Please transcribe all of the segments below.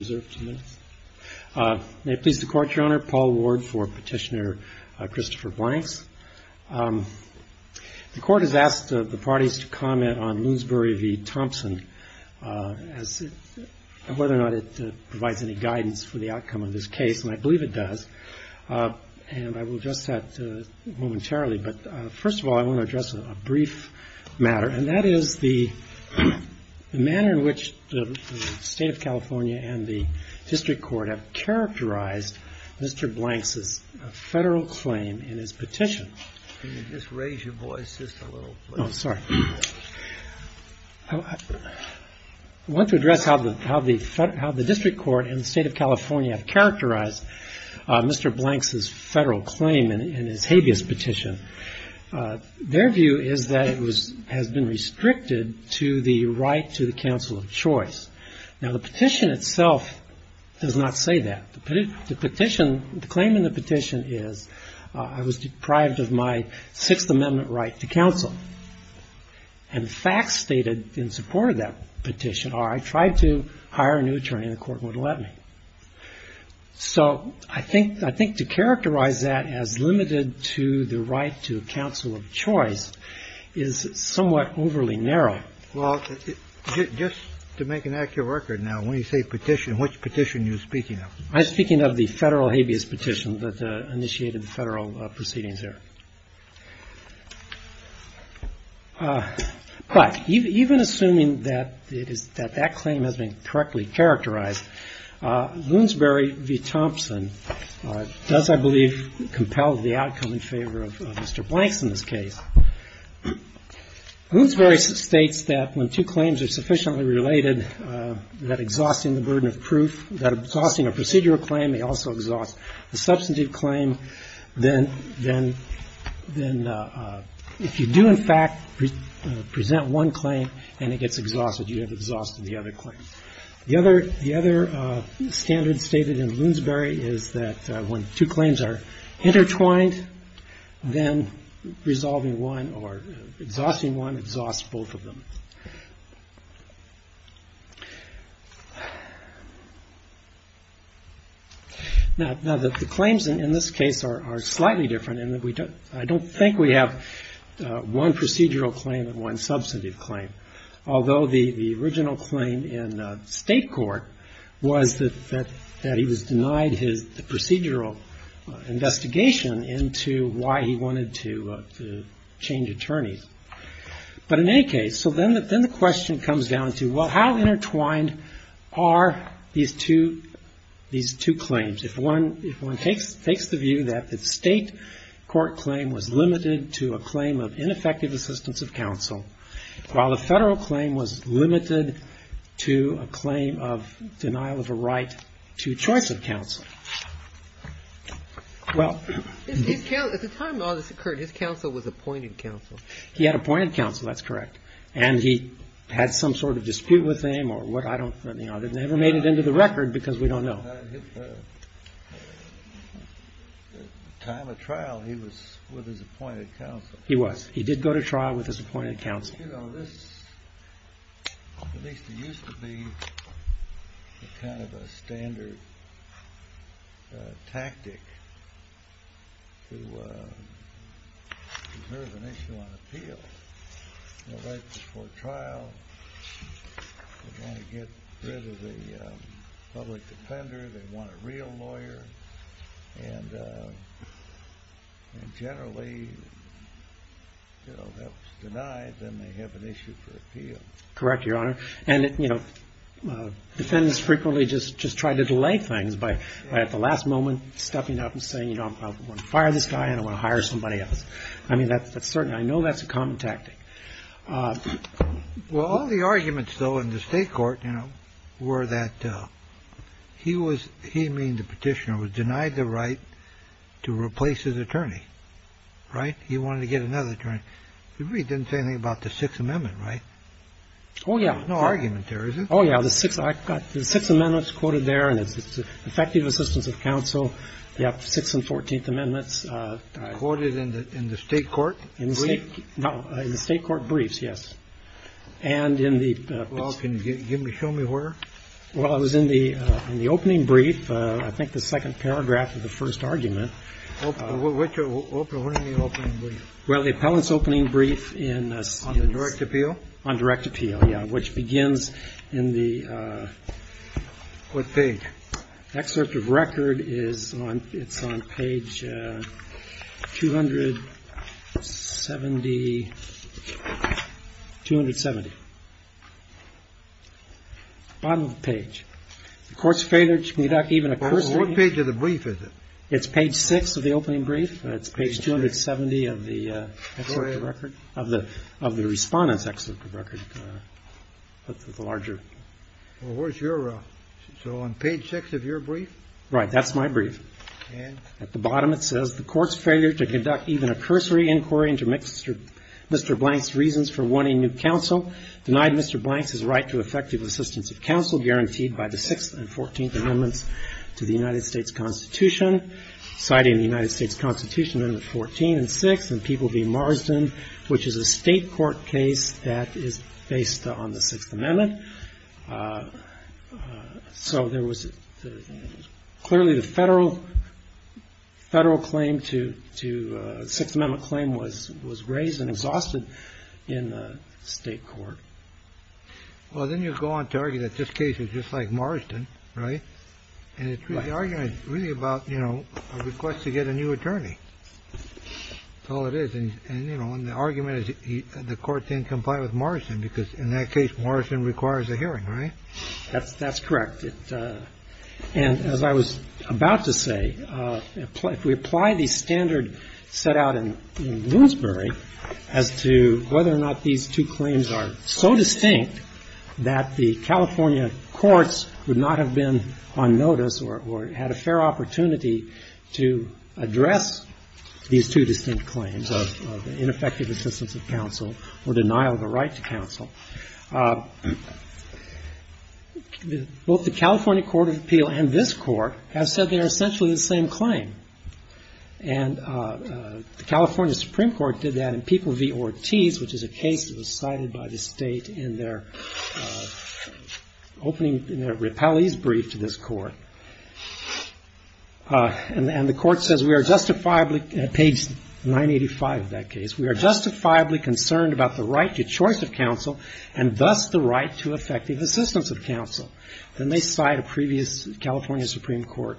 May it please the Court, Your Honor. Paul Ward for Petitioner Christopher Blanks. The Court has asked the parties to comment on Lunesbury v. Thompson, whether or not it provides any guidance for the outcome of this case, and I believe it does. And I will address that momentarily, but first of all, I want to address a brief matter, and that is the State of California and the District Court have characterized Mr. Blanks' federal claim in his petition. Can you just raise your voice just a little, please? Oh, sorry. I want to address how the District Court and the State of California have characterized Mr. Blanks' federal claim in his habeas petition. Their view is that it has been restricted to the right to the counsel of choice. Now, the petition itself does not say that. The claim in the petition is, I was deprived of my Sixth Amendment right to counsel, and the facts stated in support of that petition are I tried to hire a new attorney, and the court wouldn't let me. So I think to characterize that as limited to the right to So I think that's the way it is. All right. Well, just to make an accurate record now, when you say petition, which petition you're speaking of? I'm speaking of the federal habeas petition that initiated the federal proceedings there. But even assuming that that claim has been correctly characterized, Lunesbury v. Thompson does, I believe, compel the outcome in favor of Mr. Blanks in this case. Lunesbury states that when two claims are sufficiently related, that exhausting the burden of proof, that exhausting a procedural claim may also exhaust the substantive claim, then if you do, in fact, present one claim and it gets exhausted, you have exhausted the other claim. The other standard stated in Lunesbury is that when two claims are intertwined, then resolving one or exhausting one exhausts both of them. Now, the claims in this case are slightly different in that I don't think we have one procedural claim and one substantive claim, although the original claim in state court was that he was denied the procedural investigation into why he wanted to change attorneys. But in any case, so then the question comes down to, well, how intertwined are these two claims? If one takes the view that the state court claim was limited to a claim of ineffective assistance of counsel, while the federal claim was limited to a claim of denial of a right to choice of counsel, how does that relate to the state court claim? At the time all this occurred, his counsel was appointed counsel. He had appointed counsel, that's correct. And he had some sort of dispute with him or what? I don't know. They never made it into the record because we don't know. At the time of trial, he was with his appointed counsel. He was. He did go to trial with his appointed counsel. At least it used to be kind of a standard tactic to preserve an issue on appeal. You know, right before trial, they want to get rid of the public defender, they want a real lawyer. And generally, you know, if it's denied, then they have an issue for appeal. Correct, Your Honor. And, you know, defendants frequently just try to delay things by at the last moment stepping up and saying, you know, I want to fire this guy and I want to hire somebody else. I mean, that's certain. I know that's a common tactic. Well, all the arguments, though, in the state court, you know, were that he was he mean, the petitioner was denied the right to replace his attorney. Right. He wanted to get another attorney. He didn't say anything about the Sixth Amendment. Right. Oh, yeah. No argument there. Oh, yeah. The six I got six amendments quoted there. And it's effective assistance of counsel. Yep. Six and 14th amendments quoted in the state court. In the state. No, in the state court briefs. Yes. And in the. Can you show me where. Well, I was in the in the opening brief. I think the second paragraph of the first argument which will open. Well, the appellant's opening brief in the direct appeal on direct appeal. Yeah. Which begins in the. What page. Excerpt of record is on. It's on page two hundred seventy. Two hundred seventy. Bottom page. Of course, failure to conduct even a course. What page of the brief is it? It's page six of the opening brief. It's page 270 of the record of the of the respondents. Excerpt of record of the larger. Well, where's your. So on page six of your brief. Right. That's my brief. And at the bottom it says the court's failure to conduct even a cursory inquiry into Mr. Mr. Blank's reasons for wanting new counsel denied Mr. Blank's right to effective assistance of counsel guaranteed by the sixth and fourteenth amendments to the United States Constitution, citing the United States Constitution Amendment 14 and six and people be Marsden, which is a state court case that is based on the Sixth Amendment. So there was clearly the federal federal claim to to Sixth Amendment claim was was raised and exhausted in the state court. Well, then you go on to argue that this case is just like Marsden. Right. And the argument is really about, you know, a request to get a new attorney. So it is. And, you know, the argument is the court didn't comply with Marsden because in that case, Marsden requires a hearing. Right. That's that's correct. And as I was about to say, if we apply the standard set out in Bloomsbury as to whether or not these two claims are so distinct that the California courts would not have been on notice or had a fair opportunity to address these two distinct claims of ineffective assistance of counsel or denial of the right to counsel. Both the California Court of Appeal and this court have said they are essentially the same claim. And the California Supreme Court did that in people v. Ortiz, which is a case that the state in their opening in their repellees brief to this court. And the court says we are justifiably page nine eighty five of that case. We are justifiably concerned about the right to choice of counsel and thus the right to effective assistance of counsel. Then they cite a previous California Supreme Court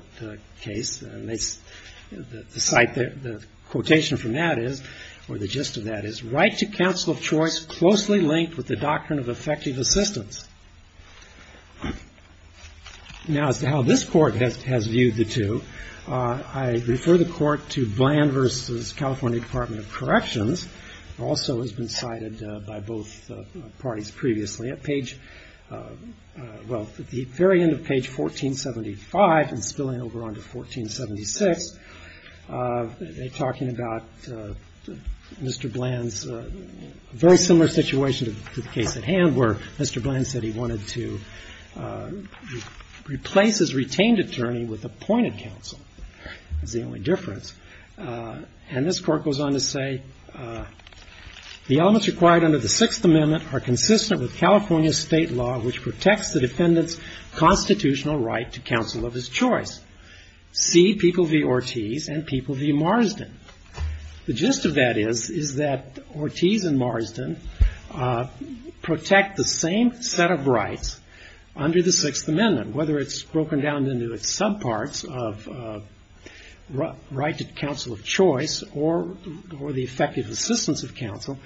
case. And they cite the quotation from that is or the gist of that is right to counsel of choice, closely linked with the doctrine of effective assistance. Now, as to how this court has viewed the two, I refer the court to Bland v. California Department of Corrections, also has been cited by both parties previously at page. Well, at the very end of page 1475 and spilling over onto 1476, they are talking about Mr. Bland's very similar situation to the case at hand where Mr. Bland said he wanted to replace his retained attorney with appointed counsel. That's the only difference. And this court goes on to say the elements required under the Sixth Amendment are consistent with California state law which protects the defendant's constitutional right to counsel of his choice. See people v. Ortiz and people v. Marsden. The gist of that is, is that Ortiz and Marsden protect the same set of rights under the Sixth Amendment. Whether it's broken down into its subparts of right to counsel of choice or the effective assistance of counsel,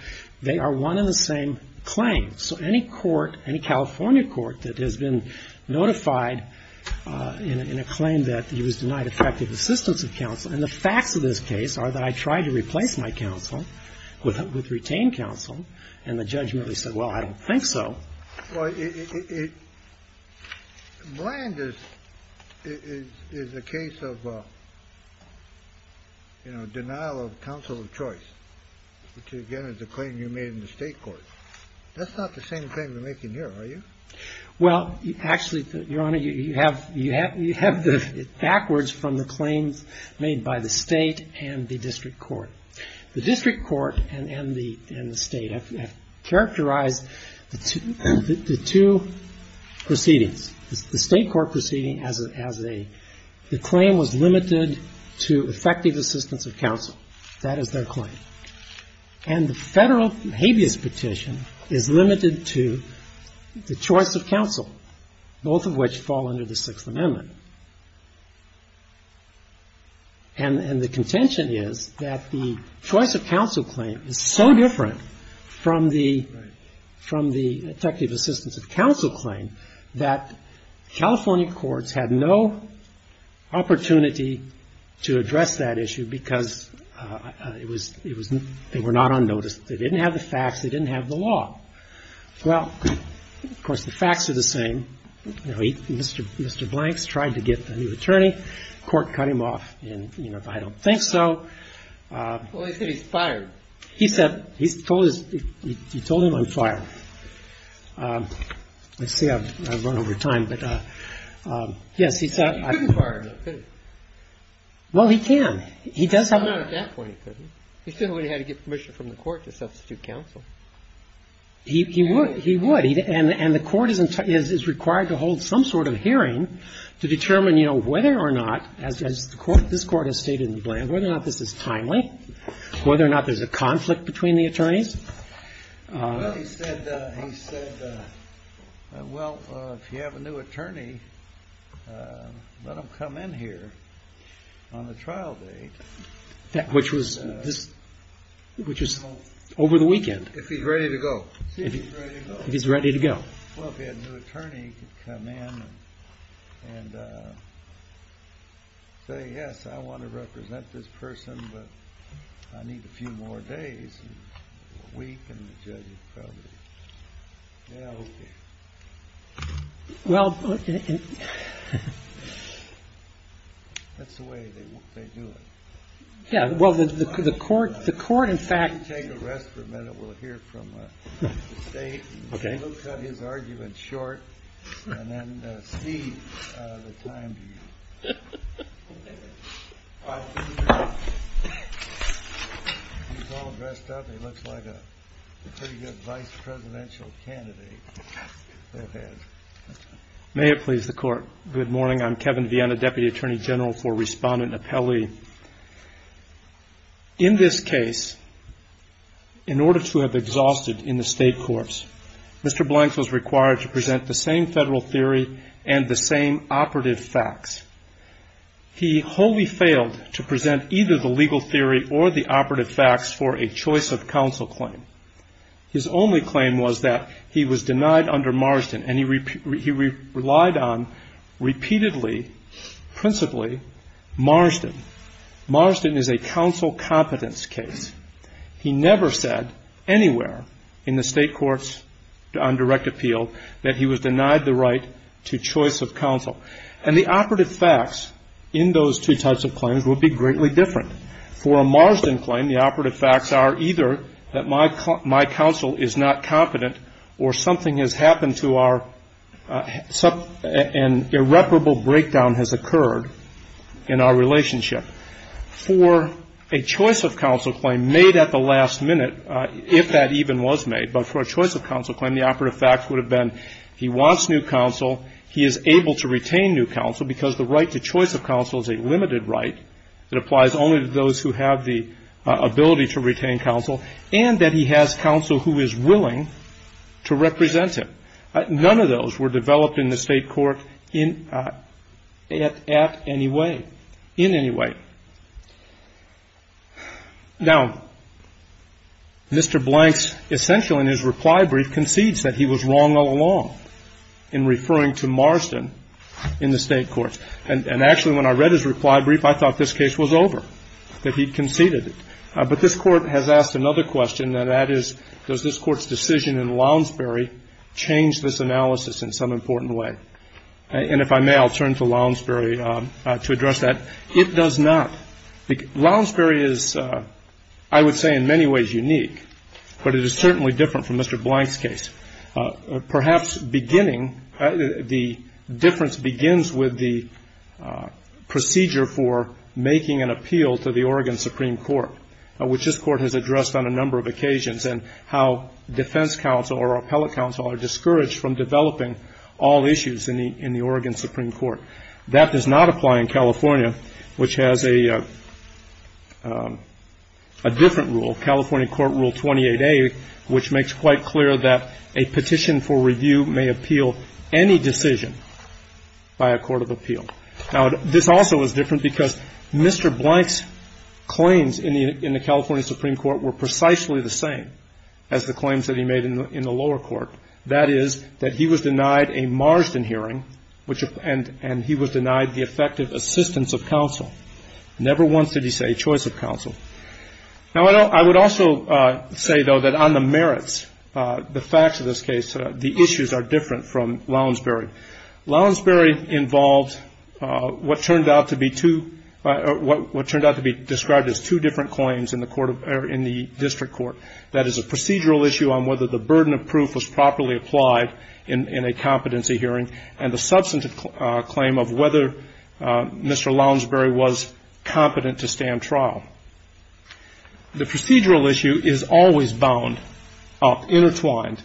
they are one and the same claim. So any court, any California court that has been notified in a claim that he was denied effective assistance of counsel and the facts of this case are that I tried to replace my counsel with retained counsel and the judge merely said, well, I don't think so. Well, Bland is a case of, you know, denial of counsel of choice, which again is a claim you made in the state court. That's not the same claim you're making here, are you? Well, actually, Your Honor, you have the backwards from the claims made by the state and the district court. The district court and the state have characterized the two proceedings. The state court proceeding as a claim was limited to effective assistance of counsel. That is their claim. And the federal habeas petition is limited to the choice of counsel, both of which fall under the Sixth Amendment. And the contention is that the choice of counsel claim is so different from the effective assistance of counsel claim that California courts had no opportunity to address that issue because it was they were not on notice. They didn't have the facts. They didn't have the law. Well, of course, the facts are the same. Mr. Blank's tried to get a new attorney. The court cut him off. And, you know, I don't think so. Well, he said he's fired. He said he told him I'm fired. Let's see. I've run over time. But, yes, he said I'm fired. He couldn't fire him, could he? Well, he can. He does have to. Well, not at that point, he couldn't. He still would have had to get permission from the court to substitute counsel. He would. He would. And the court is required to hold some sort of hearing to determine, you know, whether or not, as this Court has stated in Blank, whether or not this is timely, whether or not there's a conflict between the attorneys. Well, he said, well, if you have a new attorney, let him come in here on the trial date. Which was over the weekend. If he's ready to go. If he's ready to go. If he's ready to go. Well, if he had a new attorney, he could come in and say, yes, I want to represent this person, but I need a few more days, a week, and the judge would probably, yeah, okay. Well. That's the way they do it. Yeah. Well, the court, in fact. Why don't you take a rest for a minute? We'll hear from the State. Okay. We'll cut his argument short and then see the time to you. He's all dressed up. He looks like a pretty good vice presidential candidate. May it please the Court. Good morning. I'm Kevin Viena, Deputy Attorney General for Respondent and Appellee. In this case, in order to have exhausted in the State courts, Mr. Blanks was required to present the same federal theory and the same operative facts. He wholly failed to present either the legal theory or the operative facts for a choice of counsel claim. His only claim was that he was denied under Marsden, and he relied on repeatedly, principally, Marsden. Marsden is a counsel competence case. He never said anywhere in the State courts on direct appeal that he was denied the right to choice of counsel. And the operative facts in those two types of claims will be greatly different. For a Marsden claim, the operative facts are either that my counsel is not competent or something has happened to our and irreparable breakdown has occurred in our relationship. For a choice of counsel claim made at the last minute, if that even was made, but for a choice of counsel claim, the operative facts would have been he wants new counsel, he is able to retain new counsel because the right to choice of counsel is a limited right. It applies only to those who have the ability to retain counsel and that he has counsel who is willing to represent him. None of those were developed in the State court in at any way, in any way. Now, Mr. Blanks essentially in his reply brief concedes that he was wrong all along in referring to Marsden in the State courts. And actually, when I read his reply brief, I thought this case was over, that he conceded it. But this Court has asked another question, and that is, does this Court's decision in Lounsbury change this analysis in some important way? And if I may, I'll turn to Lounsbury to address that. It does not. Lounsbury is, I would say, in many ways unique, but it is certainly different from Mr. Blanks' case. Perhaps beginning, the difference begins with the procedure for making an appeal to the Oregon Supreme Court, which this Court has addressed on a number of occasions, and how defense counsel or appellate counsel are discouraged from developing all issues in the Oregon Supreme Court. That does not apply in California, which has a different rule, California Court Rule 28A, which makes quite clear that a petition for review may appeal any decision by a court of appeal. Now, this also is different because Mr. Blanks' claims in the California Supreme Court were precisely the same as the claims that he made in the lower court. That is, that he was denied a Marsden hearing, and he was denied the effective assistance of counsel. Never once did he say choice of counsel. Now, I would also say, though, that on the merits, the facts of this case, the issues are different from Lounsbury. Lounsbury involved what turned out to be two, what turned out to be described as two different claims in the District Court. That is, a procedural issue on whether the burden of proof was properly applied in a competency hearing, and the substantive claim of whether Mr. Lounsbury was competent to stand trial. The procedural issue is always bound up, intertwined,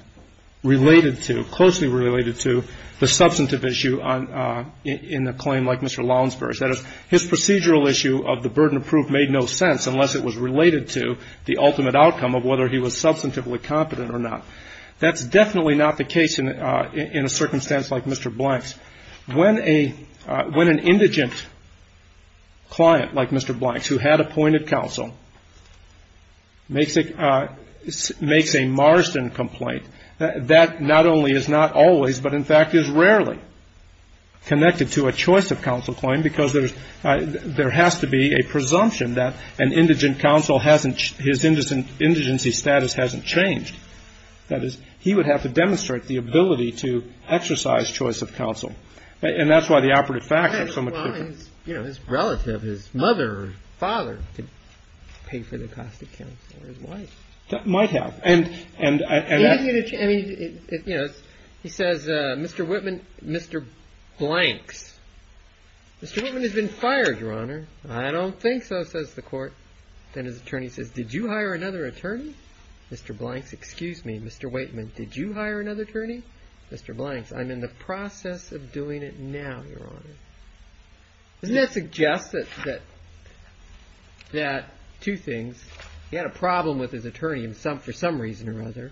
related to, closely related to the substantive issue in a claim like Mr. Lounsbury's. That is, his procedural issue of the burden of proof made no sense unless it was related to the ultimate outcome of whether he was substantively competent or not. That's definitely not the case in a circumstance like Mr. Blank's. When an indigent client like Mr. Blank's, who had appointed counsel, makes a Marsden complaint, that not only is not always, but in fact is rarely connected to a choice of counsel claim, because there has to be a presumption that an indigent counsel hasn't, his indigency status hasn't changed. That is, he would have to demonstrate the ability to exercise choice of counsel. And that's why the operative facts are so much different. Well, you know, his relative, his mother or father could pay for the cost of counsel, or his wife. That might have. And, you know, he says, Mr. Whitman, Mr. Blank's. Mr. Whitman has been fired, Your Honor. I don't think so, says the court. Then his attorney says, did you hire another attorney? Mr. Blank's, excuse me, Mr. Whitman, did you hire another attorney? Mr. Blank's, I'm in the process of doing it now, Your Honor. Doesn't that suggest that two things? He had a problem with his attorney for some reason or other.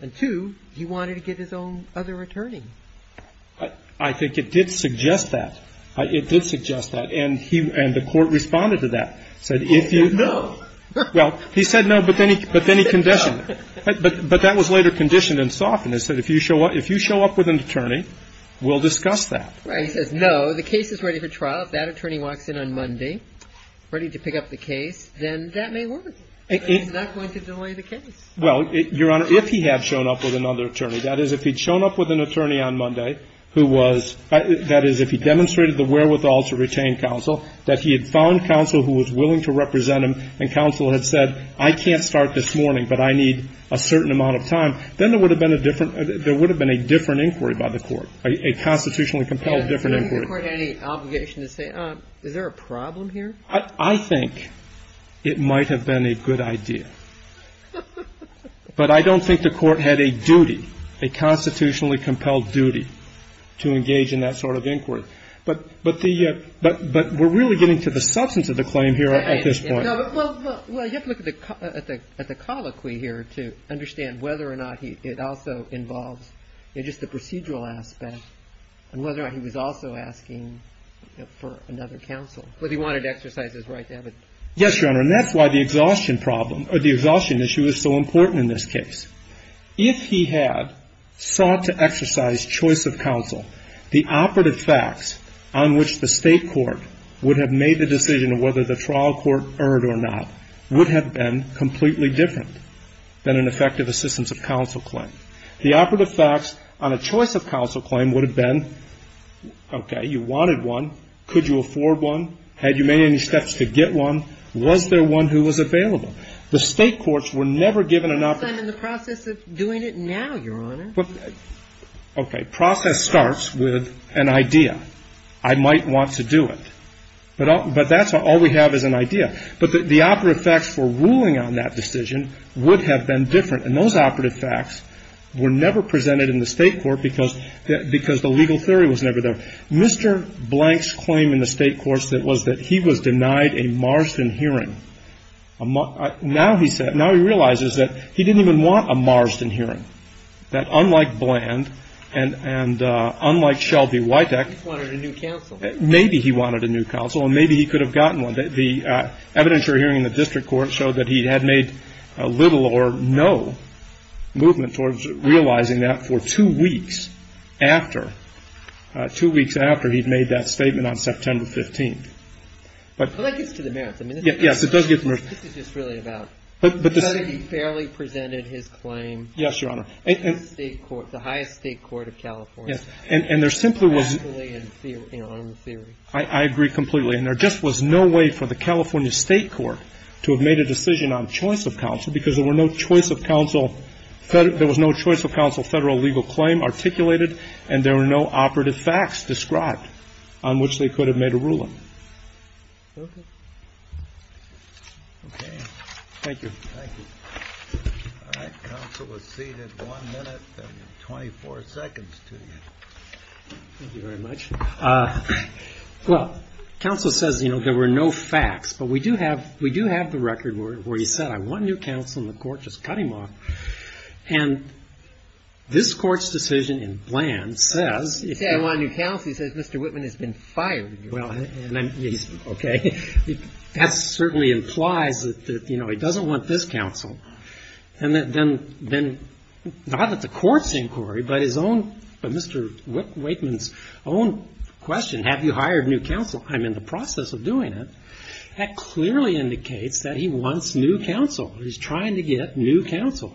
And two, he wanted to get his own other attorney. I think it did suggest that. It did suggest that. And the court responded to that. Said if you. No. Well, he said no, but then he conditioned it. But that was later conditioned and softened. It said if you show up with an attorney, we'll discuss that. Right. He says no. The case is ready for trial. If that attorney walks in on Monday ready to pick up the case, then that may work. It's not going to delay the case. Well, Your Honor, if he had shown up with another attorney, that is, if he'd shown up with an attorney on Monday who was – that is, if he demonstrated the wherewithal to retain counsel, that he had found counsel who was willing to represent him and counsel had said, I can't start this morning, but I need a certain amount of time, then there would have been a different – there would have been a different inquiry by the court, a constitutionally compelled different inquiry. So didn't the court have any obligation to say, is there a problem here? I think it might have been a good idea. But I don't think the court had a duty, a constitutionally compelled duty to engage in that sort of inquiry. But the – but we're really getting to the substance of the claim here at this point. Well, you have to look at the colloquy here to understand whether or not it also involves just the procedural aspect and whether or not he was also asking for another counsel. Whether he wanted to exercise his right to have a – Yes, Your Honor. And that's why the exhaustion problem or the exhaustion issue is so important in this case. If he had sought to exercise choice of counsel, the operative facts on which the state court would have made the decision of whether the trial court erred or not would have been completely different than an effective assistance of counsel claim. The operative facts on a choice of counsel claim would have been, okay, you wanted one, could you afford one, had you made any steps to get one, was there one who The state courts were never given an operative – Well, I'm in the process of doing it now, Your Honor. Okay. Process starts with an idea. I might want to do it. But that's all we have is an idea. But the operative facts for ruling on that decision would have been different. And those operative facts were never presented in the state court because the legal theory was never there. Mr. Blank's claim in the state courts was that he was denied a Marsden hearing. Now he realizes that he didn't even want a Marsden hearing, that unlike Bland and unlike Shelby Witek, maybe he wanted a new counsel and maybe he could have gotten one. The evidence you're hearing in the district court showed that he had made little or no movement towards realizing that for two weeks after, two weeks after he'd made that statement on September 15th. Well, that gets to the merits. Yes, it does get to the merits. This is just really about how he fairly presented his claim. Yes, Your Honor. In the highest state court of California. Yes. And there simply was – Practically and on the theory. I agree completely. And there just was no way for the California State Court to have made a decision on choice of counsel because there were no choice of counsel – there was no choice of counsel Federal legal claim articulated and there were no operative facts described on which they could have made a ruling. Okay. Okay. Thank you. Thank you. All right. Counsel is seated. One minute and 24 seconds to you. Thank you very much. Well, counsel says, you know, there were no facts, but we do have the record where he said, I want a new counsel and the court just cut him off. And this court's decision in Bland says – He said, I want a new counsel. He says, Mr. Whitman has been fired. Well, okay. That certainly implies that, you know, he doesn't want this counsel. And then not at the court's inquiry, but his own – Mr. Whitman's own question, have you hired new counsel? I'm in the process of doing it. That clearly indicates that he wants new counsel. He's trying to get new counsel.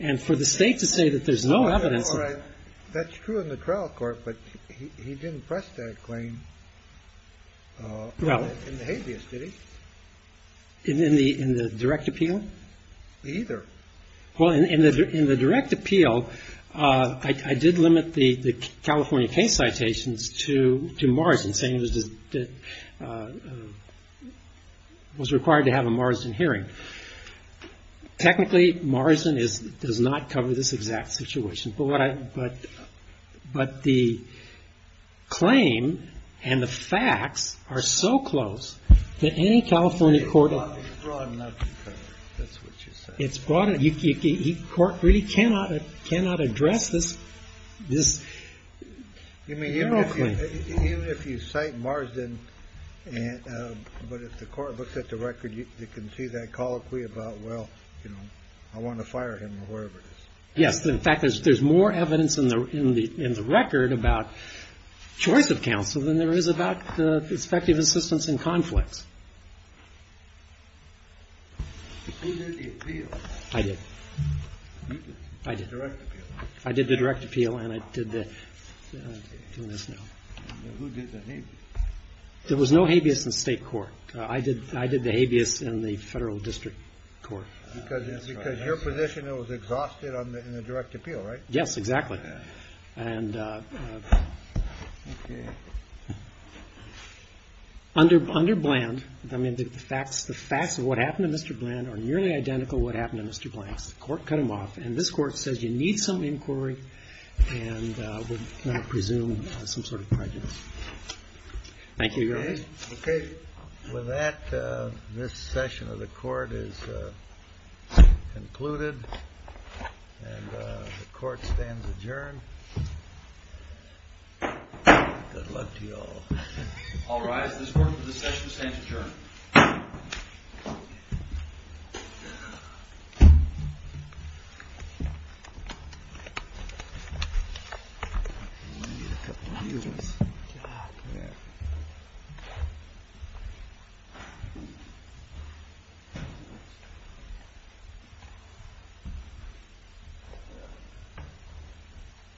And for the state to say that there's no evidence – That's true in the trial court, but he didn't press that claim in the habeas, did he? In the direct appeal? Either. Well, in the direct appeal, I did limit the California case citations to Marston saying it was required to have a Marston hearing. Technically, Marston does not cover this exact situation. But the claim and the facts are so close that any California court – It's broad enough. That's what you said. It's broad enough. The court really cannot address this – You mean, even if you cite Marston, but if the court looks at the record, you can see that colloquy about, well, you know, I want to fire him or whoever it is. Yes. In fact, there's more evidence in the record about choice of counsel than there is about the perspective assistance in conflicts. Who did the appeal? I did. You did? I did. The direct appeal. I did the direct appeal, and I did the – I'm doing this now. Who did the habeas? There was no habeas in State court. I did the habeas in the Federal District Court. Because your position was exhausted in the direct appeal, right? Yes, exactly. And under Bland, I mean, the facts of what happened to Mr. Bland are nearly identical to what happened to Mr. Bland. The court cut him off, and this Court says you need some inquiry and would not presume some sort of prejudice. Thank you, Your Honor. Okay. With that, this session of the court is concluded, and the court stands adjourned. Good luck to you all. All rise. This session stands adjourned. Thank you.